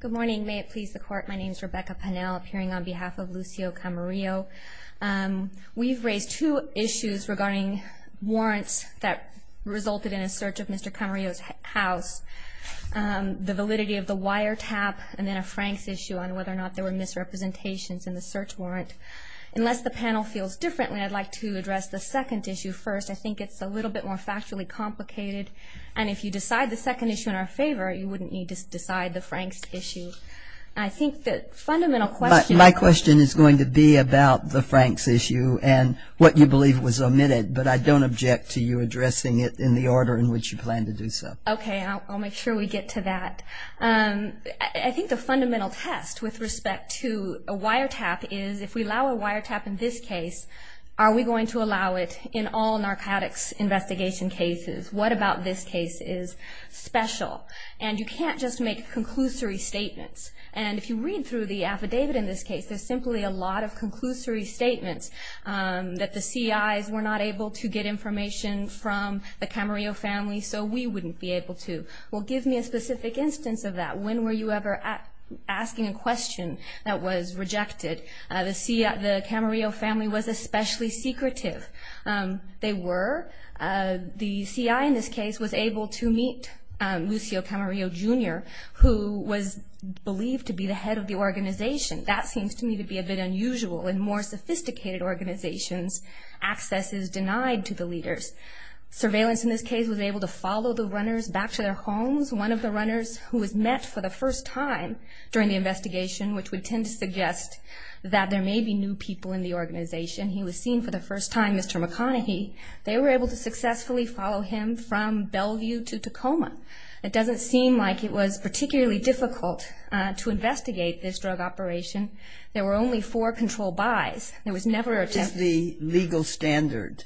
Good morning may it please the court my name is Rebecca Pannell appearing on behalf of Lucio Camarillo. We've raised two issues regarding warrants that resulted in a search of Mr. Camarillo's house. The validity of the wiretap and then a Frank's issue on whether or not there were misrepresentations in the search warrant. Unless the panel feels differently I'd like to address the second issue first I think it's a little bit more factually complicated and if you decide the second issue in our favor you wouldn't need to decide the Frank's issue. I think that fundamental question. My question is going to be about the Frank's issue and what you believe was omitted but I don't object to you addressing it in the order in which you plan to do so. Okay I'll make sure we get to that. I think the fundamental test with respect to a wiretap is if we allow a wiretap in this case are we going to allow it in all narcotics investigation cases? What about this case is special? And you can't just make conclusory statements and if you read through the affidavit in this case there's simply a lot of conclusory statements that the CIs were not able to get information from the Camarillo family so we wouldn't be able to. Well give me a specific instance of that. When were you ever at asking a question that was rejected? The Camarillo family was especially secretive. They were. The CI in this case was able to meet Lucio Camarillo Jr. who was believed to be the head of the organization. That seems to me to be a bit unusual. In more sophisticated organizations access is denied to the leaders. Surveillance in this case was able to follow the runners back to their homes. One of the runners who was met for the first time during the investigation which would tend to suggest that there may be new people in the organization. He was seen for the first time, Mr. McConaghy. They were able to successfully follow him from Bellevue to Tacoma. It doesn't seem like it was particularly difficult to investigate this drug operation. There were only four control buys. There was never a test. What is the legal standard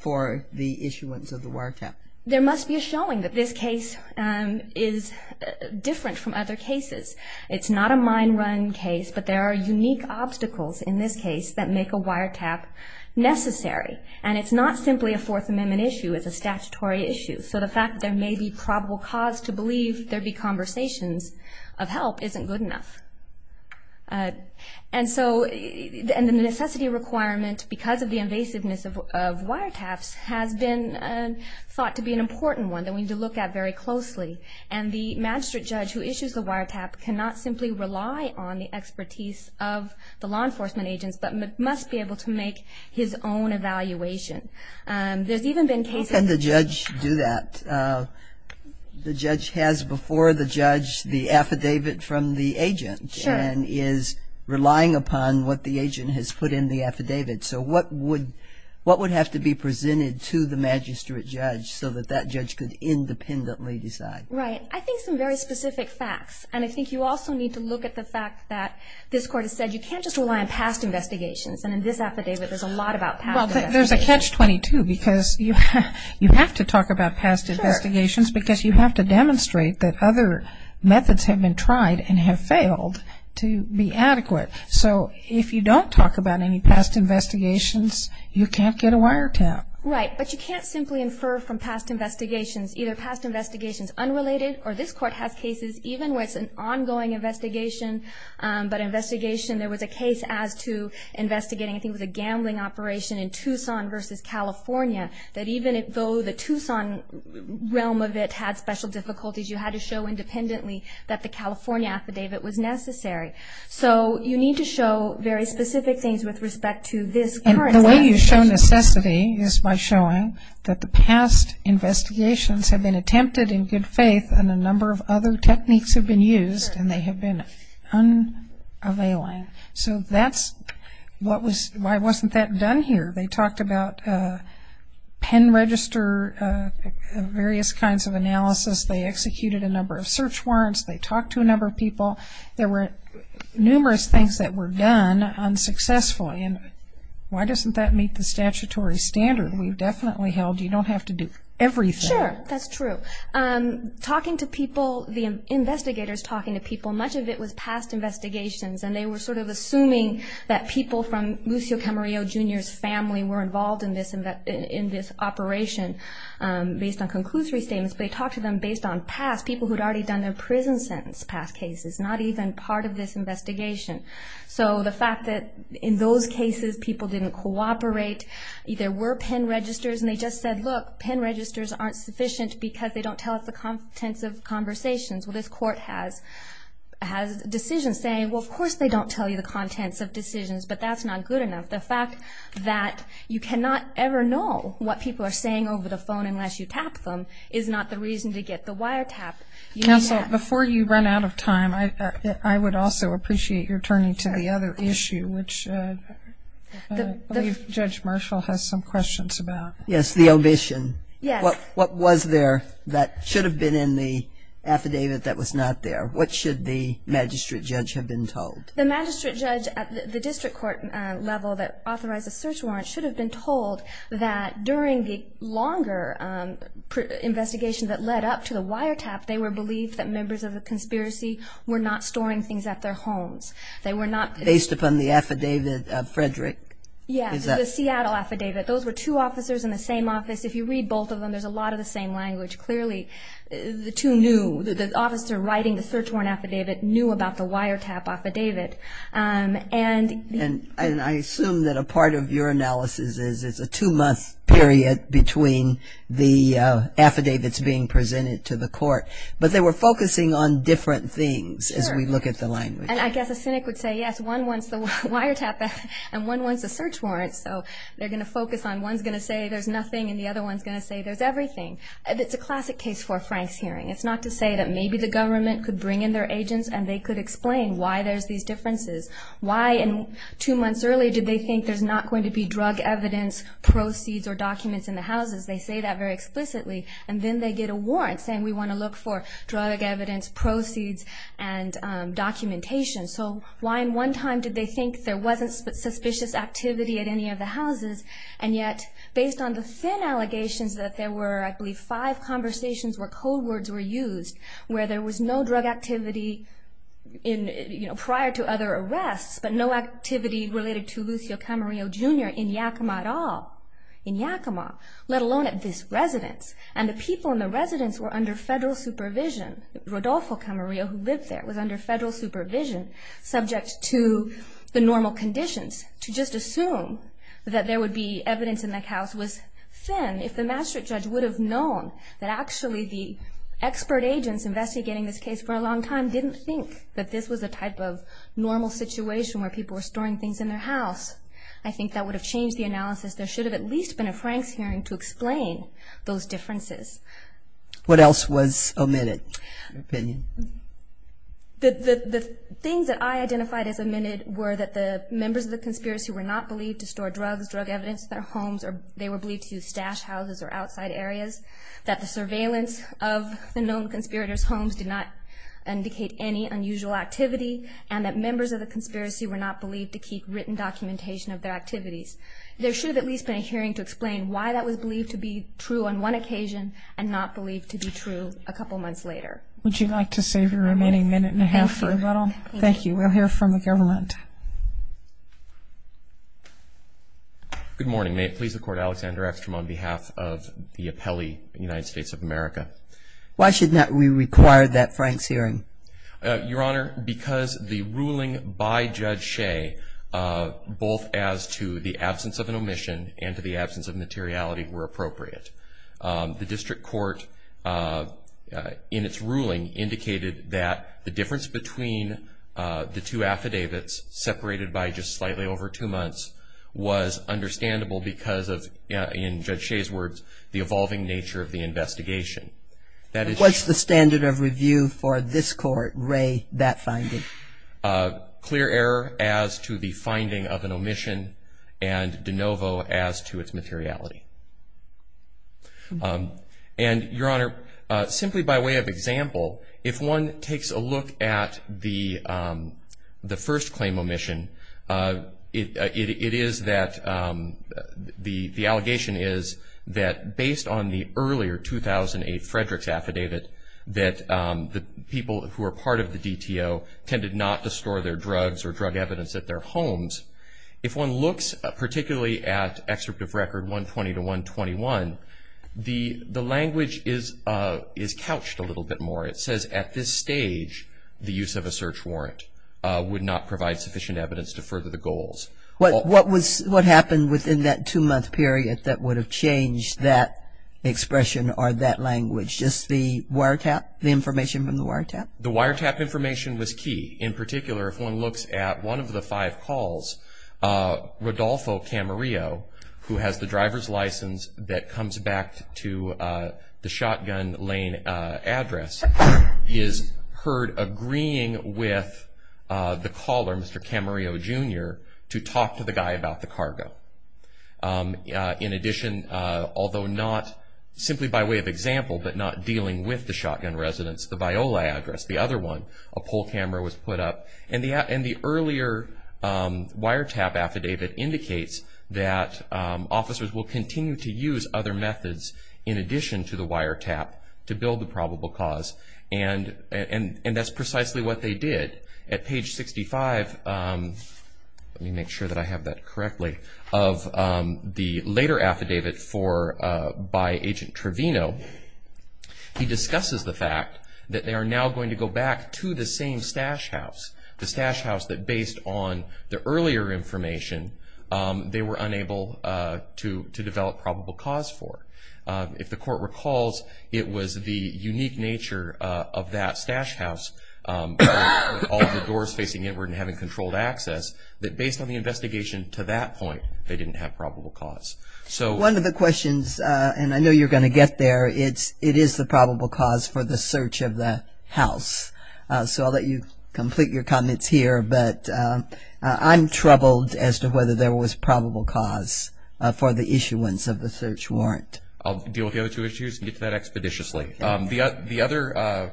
for the issuance of the WARTAP? There must be a showing that this case is different from other cases. It's not a mine run case but there are unique obstacles in this case that make a WARTAP necessary. It's not simply a Fourth Amendment issue. It's a statutory issue. The fact there may be probable cause to believe there be conversations of help isn't good enough. The necessity requirement because of the invasiveness of WARTAPs has been thought to be an important one that we need to look at very closely. The magistrate judge who issues the WARTAP cannot simply rely on the expertise of the law enforcement agents but must be able to make his own evaluation. There's even been cases... How can the judge do that? The judge has before the judge the affidavit from the agent and is relying upon what the agent has put in the affidavit. So what would have to be presented to the magistrate judge so that that judge could independently decide? Right. I think some very specific facts and I think you also need to look at the fact that this court has said you can't just rely on past investigations and in this affidavit there's a lot about past investigations. There's a catch-22 because you have to talk about past investigations because you have to demonstrate that other methods have been tried and have failed to be adequate. So if you don't talk about any past investigations you can't get a WARTAP. Right. But you can't simply infer from past investigations either past investigations unrelated or this court has cases even with an ongoing investigation but investigation there was a case as to investigating I think was a gambling operation in Tucson versus California that even though the Tucson realm of it had special difficulties you had to show independently that the California affidavit was necessary. So you need to show very specific things with respect to this. The way you show necessity is by showing that the past investigations have been attempted in good faith and a number of other techniques have been used and they have been unavailing. So that's what was why wasn't that done here they talked about pen register various kinds of analysis they executed a number of search warrants they talked to a number of people there were numerous things that were done unsuccessfully and why doesn't that meet the statutory standard we've definitely held you don't have to do everything sure that's true I'm talking to people the investigators talking to people much of it was past investigations and they were sort of assuming that people from Lucio Camarillo jr.'s family were involved in this and that in this operation based on conclusory statements they talked to them based on past people who'd already done their prison sentence past cases not even part of this investigation so the fact that in those cases people didn't cooperate there were pen registers and they just said look pen registers aren't sufficient because they don't tell us the contents of conversations well this court has has decisions saying well of course they don't tell you the contents of decisions but that's not good enough the fact that you cannot ever know what people are saying over the phone unless you tap them is not the reason to get the wire tap before you run out of time I would also appreciate your turning to the issue which judge Marshall has some questions about yes the omission yeah what what was there that should have been in the affidavit that was not there what should the magistrate judge have been told the magistrate judge at the district court level that authorized a search warrant should have been told that during the longer investigation that led up to the wiretap they were believed that members of the conspiracy were not storing things at their homes they were not based upon the affidavit of Frederick yeah the Seattle affidavit those were two officers in the same office if you read both of them there's a lot of the same language clearly the two knew the officer writing the search warrant affidavit knew about the wiretap affidavit and and I assume that a part of your analysis is it's a two-month period between the affidavits being presented to the court but they were focusing on different things as we look at the language and I guess a cynic would say yes one wants the wiretap and one wants a search warrant so they're gonna focus on one's gonna say there's nothing and the other one's gonna say there's everything it's a classic case for Frank's hearing it's not to say that maybe the government could bring in their agents and they could explain why there's these differences why in two months early did they think there's not going to be drug evidence proceeds or documents in the houses they say that very explicitly and then they get a documentation so why in one time did they think there wasn't suspicious activity at any of the houses and yet based on the thin allegations that there were I believe five conversations where code words were used where there was no drug activity in you know prior to other arrests but no activity related to Lucio Camarillo jr. in Yakima at all in Yakima let alone at this residence and the people in the residence were under federal supervision Rodolfo Camarillo who lived there was under federal supervision subject to the normal conditions to just assume that there would be evidence in that house was thin if the Maastricht judge would have known that actually the expert agents investigating this case for a long time didn't think that this was a type of normal situation where people were storing things in their house I think that would have changed the analysis there should have at least been a Frank's to explain those differences what else was a minute opinion that the things that I identified as a minute were that the members of the conspiracy were not believed to store drugs drug evidence their homes or they were believed to stash houses or outside areas that the surveillance of the known conspirators homes did not indicate any unusual activity and that members of the conspiracy were not believed to keep written documentation of their activities there should at least been a hearing to explain why that was believed to be true on one occasion and not believed to be true a couple months later would you like to save your remaining minute and a half for a little thank you we'll hear from the government good morning may it please the court Alexander X from on behalf of the appellee United States of America why should not we require that Frank's hearing your honor because the ruling by the district court in its ruling indicated that the difference between the two affidavits separated by just slightly over two months was understandable because of the evolving nature of the investigation that is what's the standard of review for this court ray that finding clear error as to the finding of an omission and de novo as to its materiality and your honor simply by way of example if one takes a look at the the first claim omission it is that the the allegation is that based on the earlier 2008 Frederick's affidavit that the people who are part of the DTO tended not to store their homes if one looks particularly at excerpt of record 120 to 121 the the language is is couched a little bit more it says at this stage the use of a search warrant would not provide sufficient evidence to further the goals what what was what happened within that two-month period that would have changed that expression or that language just the wiretap the information from the wiretap the wiretap information was key in particular if one looks at one of the five calls Rodolfo Camarillo who has the driver's license that comes back to the shotgun Lane address is heard agreeing with the caller mr. Camarillo jr. to talk to the guy about the cargo in addition although not simply by way of example but not dealing with the shotgun residents the Biola address the other one a pole camera was put up and the app and the earlier wiretap affidavit indicates that officers will continue to use other methods in addition to the wiretap to build the probable cause and and and that's precisely what they did at page 65 let me make sure that I have that correctly of the later affidavit for by agent Trevino he discusses the fact that they are now going to go back to the same stash house the stash house that based on the earlier information they were unable to to develop probable cause for if the court recalls it was the unique nature of that stash house all the doors facing inward and having controlled access that based on the investigation to that point they didn't have probable cause so one of the questions and I know you're going to get there it's it is the probable cause for the search of the house so I'll let you complete your comments here but I'm troubled as to whether there was probable cause for the issuance of the search warrant I'll deal with the other two issues and get that expeditiously the other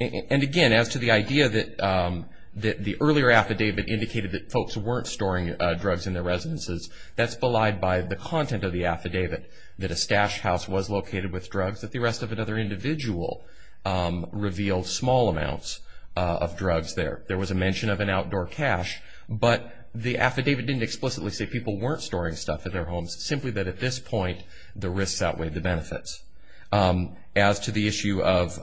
and again as to the idea that that the earlier affidavit indicated that folks weren't storing drugs in their residences that's belied by the content of the affidavit that a stash house was located with drugs that the rest of another individual revealed small amounts of drugs there there was a mention of an outdoor cache but the affidavit didn't explicitly say people weren't storing stuff in their homes simply that at this point the risks outweigh the benefits as to the issue of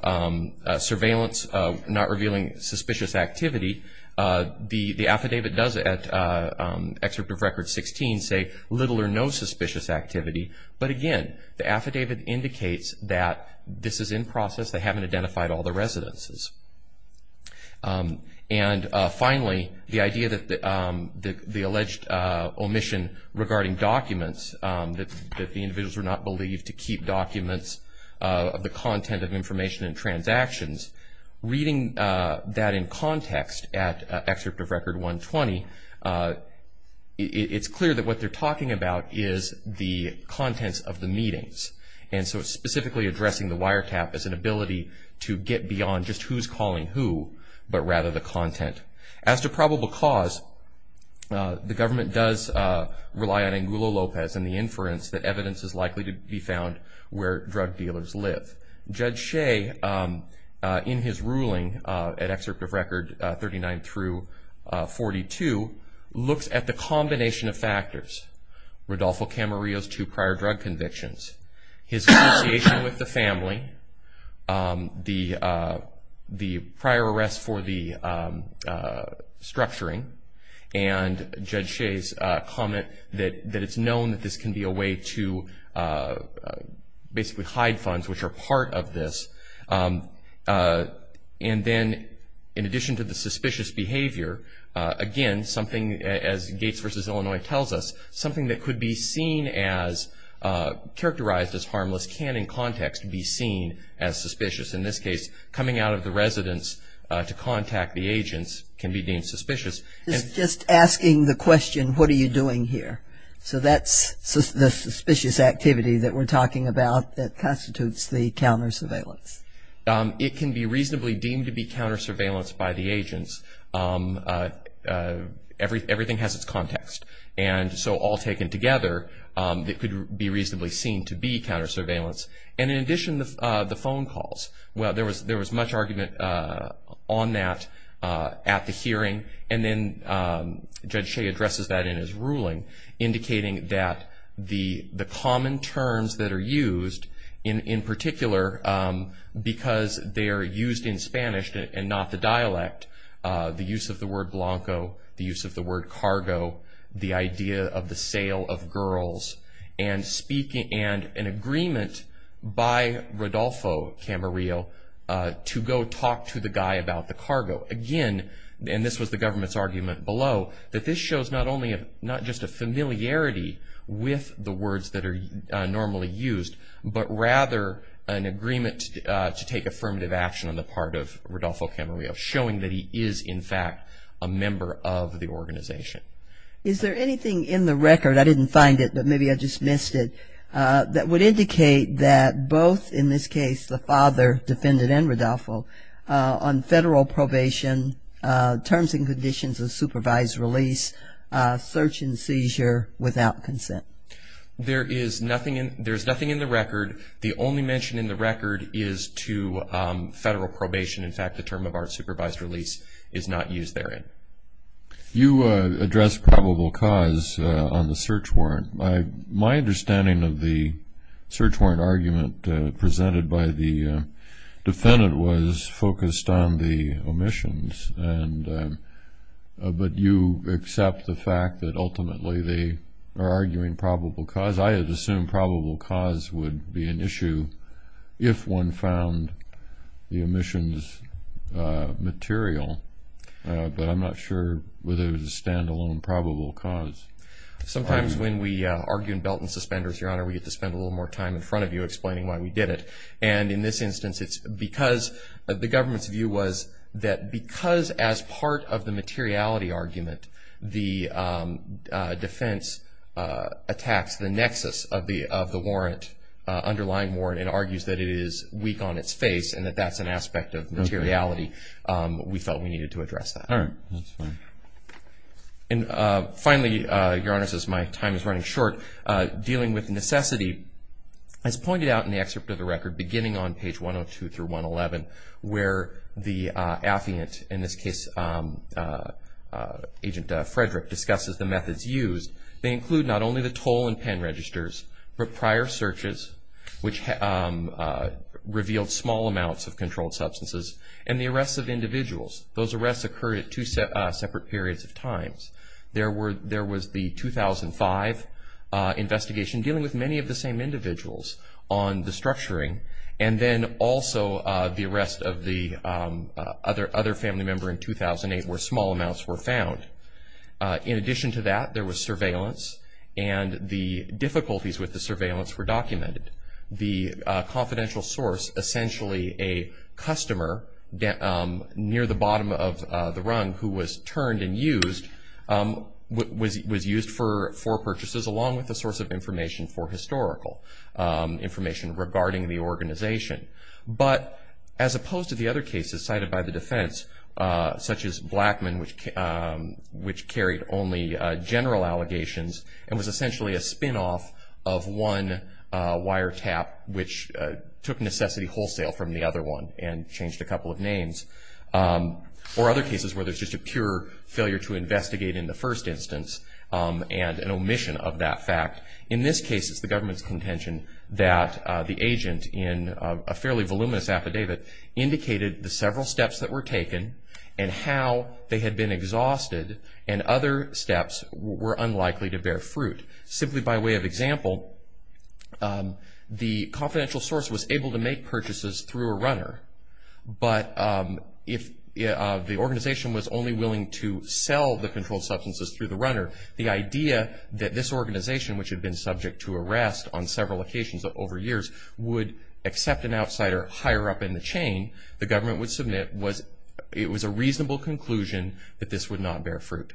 surveillance not revealing suspicious activity the the affidavit does at excerpt of record 16 say little or no suspicious activity but again the affidavit indicates that this is in process they haven't identified all the residences and finally the idea that the alleged omission regarding documents that the individuals were not believed to keep documents of the content of information and transactions reading that in context at excerpt of record 120 it's clear that what they're talking about is the contents of the meetings and so it's specifically addressing the wiretap as an ability to get beyond just who's calling who but rather the content as to probable cause the government does rely on angular Lopez and the inference that evidence is likely to be found where drug dealers live judge Shea in his ruling at excerpt of record 39 through 42 looks at the combination of factors Rodolfo Camarillo's two prior drug convictions his family the the prior arrest for the structuring and judge Shea's comment that that it's known that this can be a way to basically hide funds which are part of this and then in addition to the suspicious behavior again something as Gates versus Illinois tells us something that could be seen as characterized as harmless can in context be seen as suspicious in this case coming out of the residence to contact the agents can be deemed suspicious just asking the question what are you doing here so that's the suspicious activity that we're talking about that constitutes the counter surveillance it can be reasonably deemed to be counter surveillance by the agents everything has its context and so all taken together that could be reasonably seen to be counter surveillance and in addition the phone calls well there was there was much argument on that at the hearing and then judge Shea addresses that in his ruling indicating that the the common terms that are used in in particular because they are used in the dialect the use of the word Blanco the use of the word cargo the idea of the sale of girls and speaking and an agreement by Rodolfo Camarillo to go talk to the guy about the cargo again and this was the government's argument below that this shows not only a not just a familiarity with the words that are normally used but rather an agreement to take affirmative action on part of Rodolfo Camarillo showing that he is in fact a member of the organization is there anything in the record I didn't find it but maybe I just missed it that would indicate that both in this case the father defendant and Rodolfo on federal probation terms and conditions of supervised release search and seizure without consent there is nothing in there's nothing in the in fact the term of our supervised release is not used there in you address probable cause on the search warrant my my understanding of the search warrant argument presented by the defendant was focused on the omissions and but you accept the fact that ultimately they are arguing probable cause I had assumed probable cause would be an issue if one found the omissions material but I'm not sure whether the standalone probable cause sometimes when we argue in belt and suspenders your honor we get to spend a little more time in front of you explaining why we did it and in this instance it's because the government's view was that because as part of the materiality argument the defense attacks the nexus of the of the warrant underlying warrant and argues that it is weak on its face and that that's an aspect of materiality we felt we needed to address that and finally your honor says my time is running short dealing with necessity as pointed out in the excerpt of the record beginning on page 102 through 111 where the affiant in this case agent Frederick discusses the pen registers for prior searches which revealed small amounts of controlled substances and the arrests of individuals those arrests occurred at two separate periods of times there were there was the 2005 investigation dealing with many of the same individuals on the structuring and then also the arrest of the other other family member in 2008 where small amounts were found in addition to that there was surveillance and the difficulties with the surveillance were documented the confidential source essentially a customer near the bottom of the rung who was turned and used was used for for purchases along with the source of information for historical information regarding the organization but as opposed to the other cases cited by the general allegations and was essentially a spin-off of one wiretap which took necessity wholesale from the other one and changed a couple of names for other cases where there's just a pure failure to investigate in the first instance and an omission of that fact in this case is the government's contention that the agent in a fairly voluminous affidavit indicated the several steps that were unlikely to bear fruit simply by way of example the confidential source was able to make purchases through a runner but if the organization was only willing to sell the controlled substances through the runner the idea that this organization which had been subject to arrest on several occasions of over years would accept an outsider higher up in the chain the government would submit was it was a reasonable conclusion that this would not bear fruit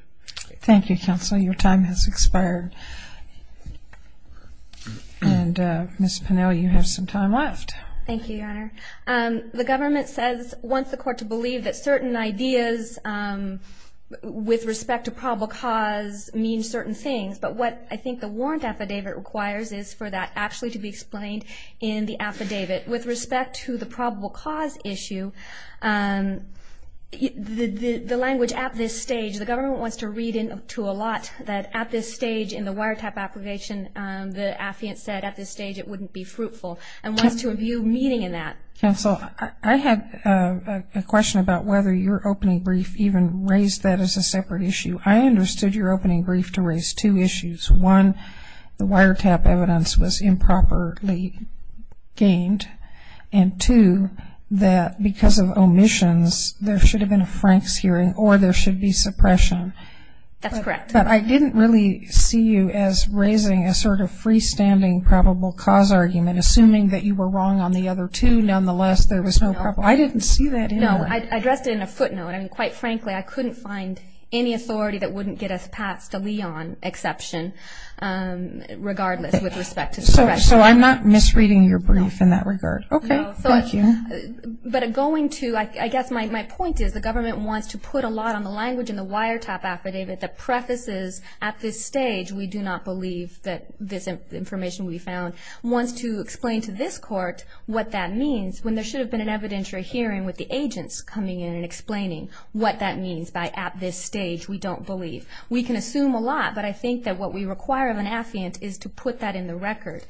thank you counsel your time has expired and miss Pennell you have some time left thank you your honor and the government says once the court to believe that certain ideas with respect to probable cause mean certain things but what I think the warrant affidavit requires is for that actually to be explained in the the language at this stage the government wants to read in to a lot that at this stage in the wiretap application the affiant said at this stage it wouldn't be fruitful and wants to review meeting in that council I had a question about whether your opening brief even raised that as a separate issue I understood your opening brief to raise two issues one the wiretap evidence was improperly gained and two that because of omissions there should have been a Frank's hearing or there should be suppression that's correct but I didn't really see you as raising a sort of freestanding probable cause argument assuming that you were wrong on the other two nonetheless there was no problem I didn't see that no I addressed it in a footnote I mean quite frankly I couldn't find any authority that wouldn't get us past a Leon exception regardless with respect to so I'm not misreading your brief in that regard okay but going to like I guess my point is the government wants to put a lot on the language in the wiretap affidavit that prefaces at this stage we do not believe that this information we found wants to explain to this court what that means when there should have been an evidentiary hearing with the agents coming in and explaining what that means by at this stage we don't believe we can require of an affiant is to put that in the record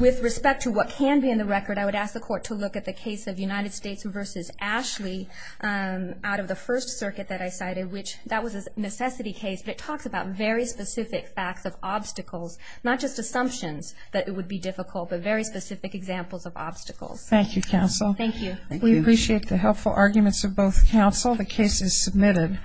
with respect to what can be in the record I would ask the court to look at the case of United States versus Ashley out of the First Circuit that I cited which that was a necessity case but it talks about very specific facts of obstacles not just assumptions that it would be difficult but very specific examples of obstacles thank you counsel thank you we appreciate the helpful arguments of both counsel the case is submitted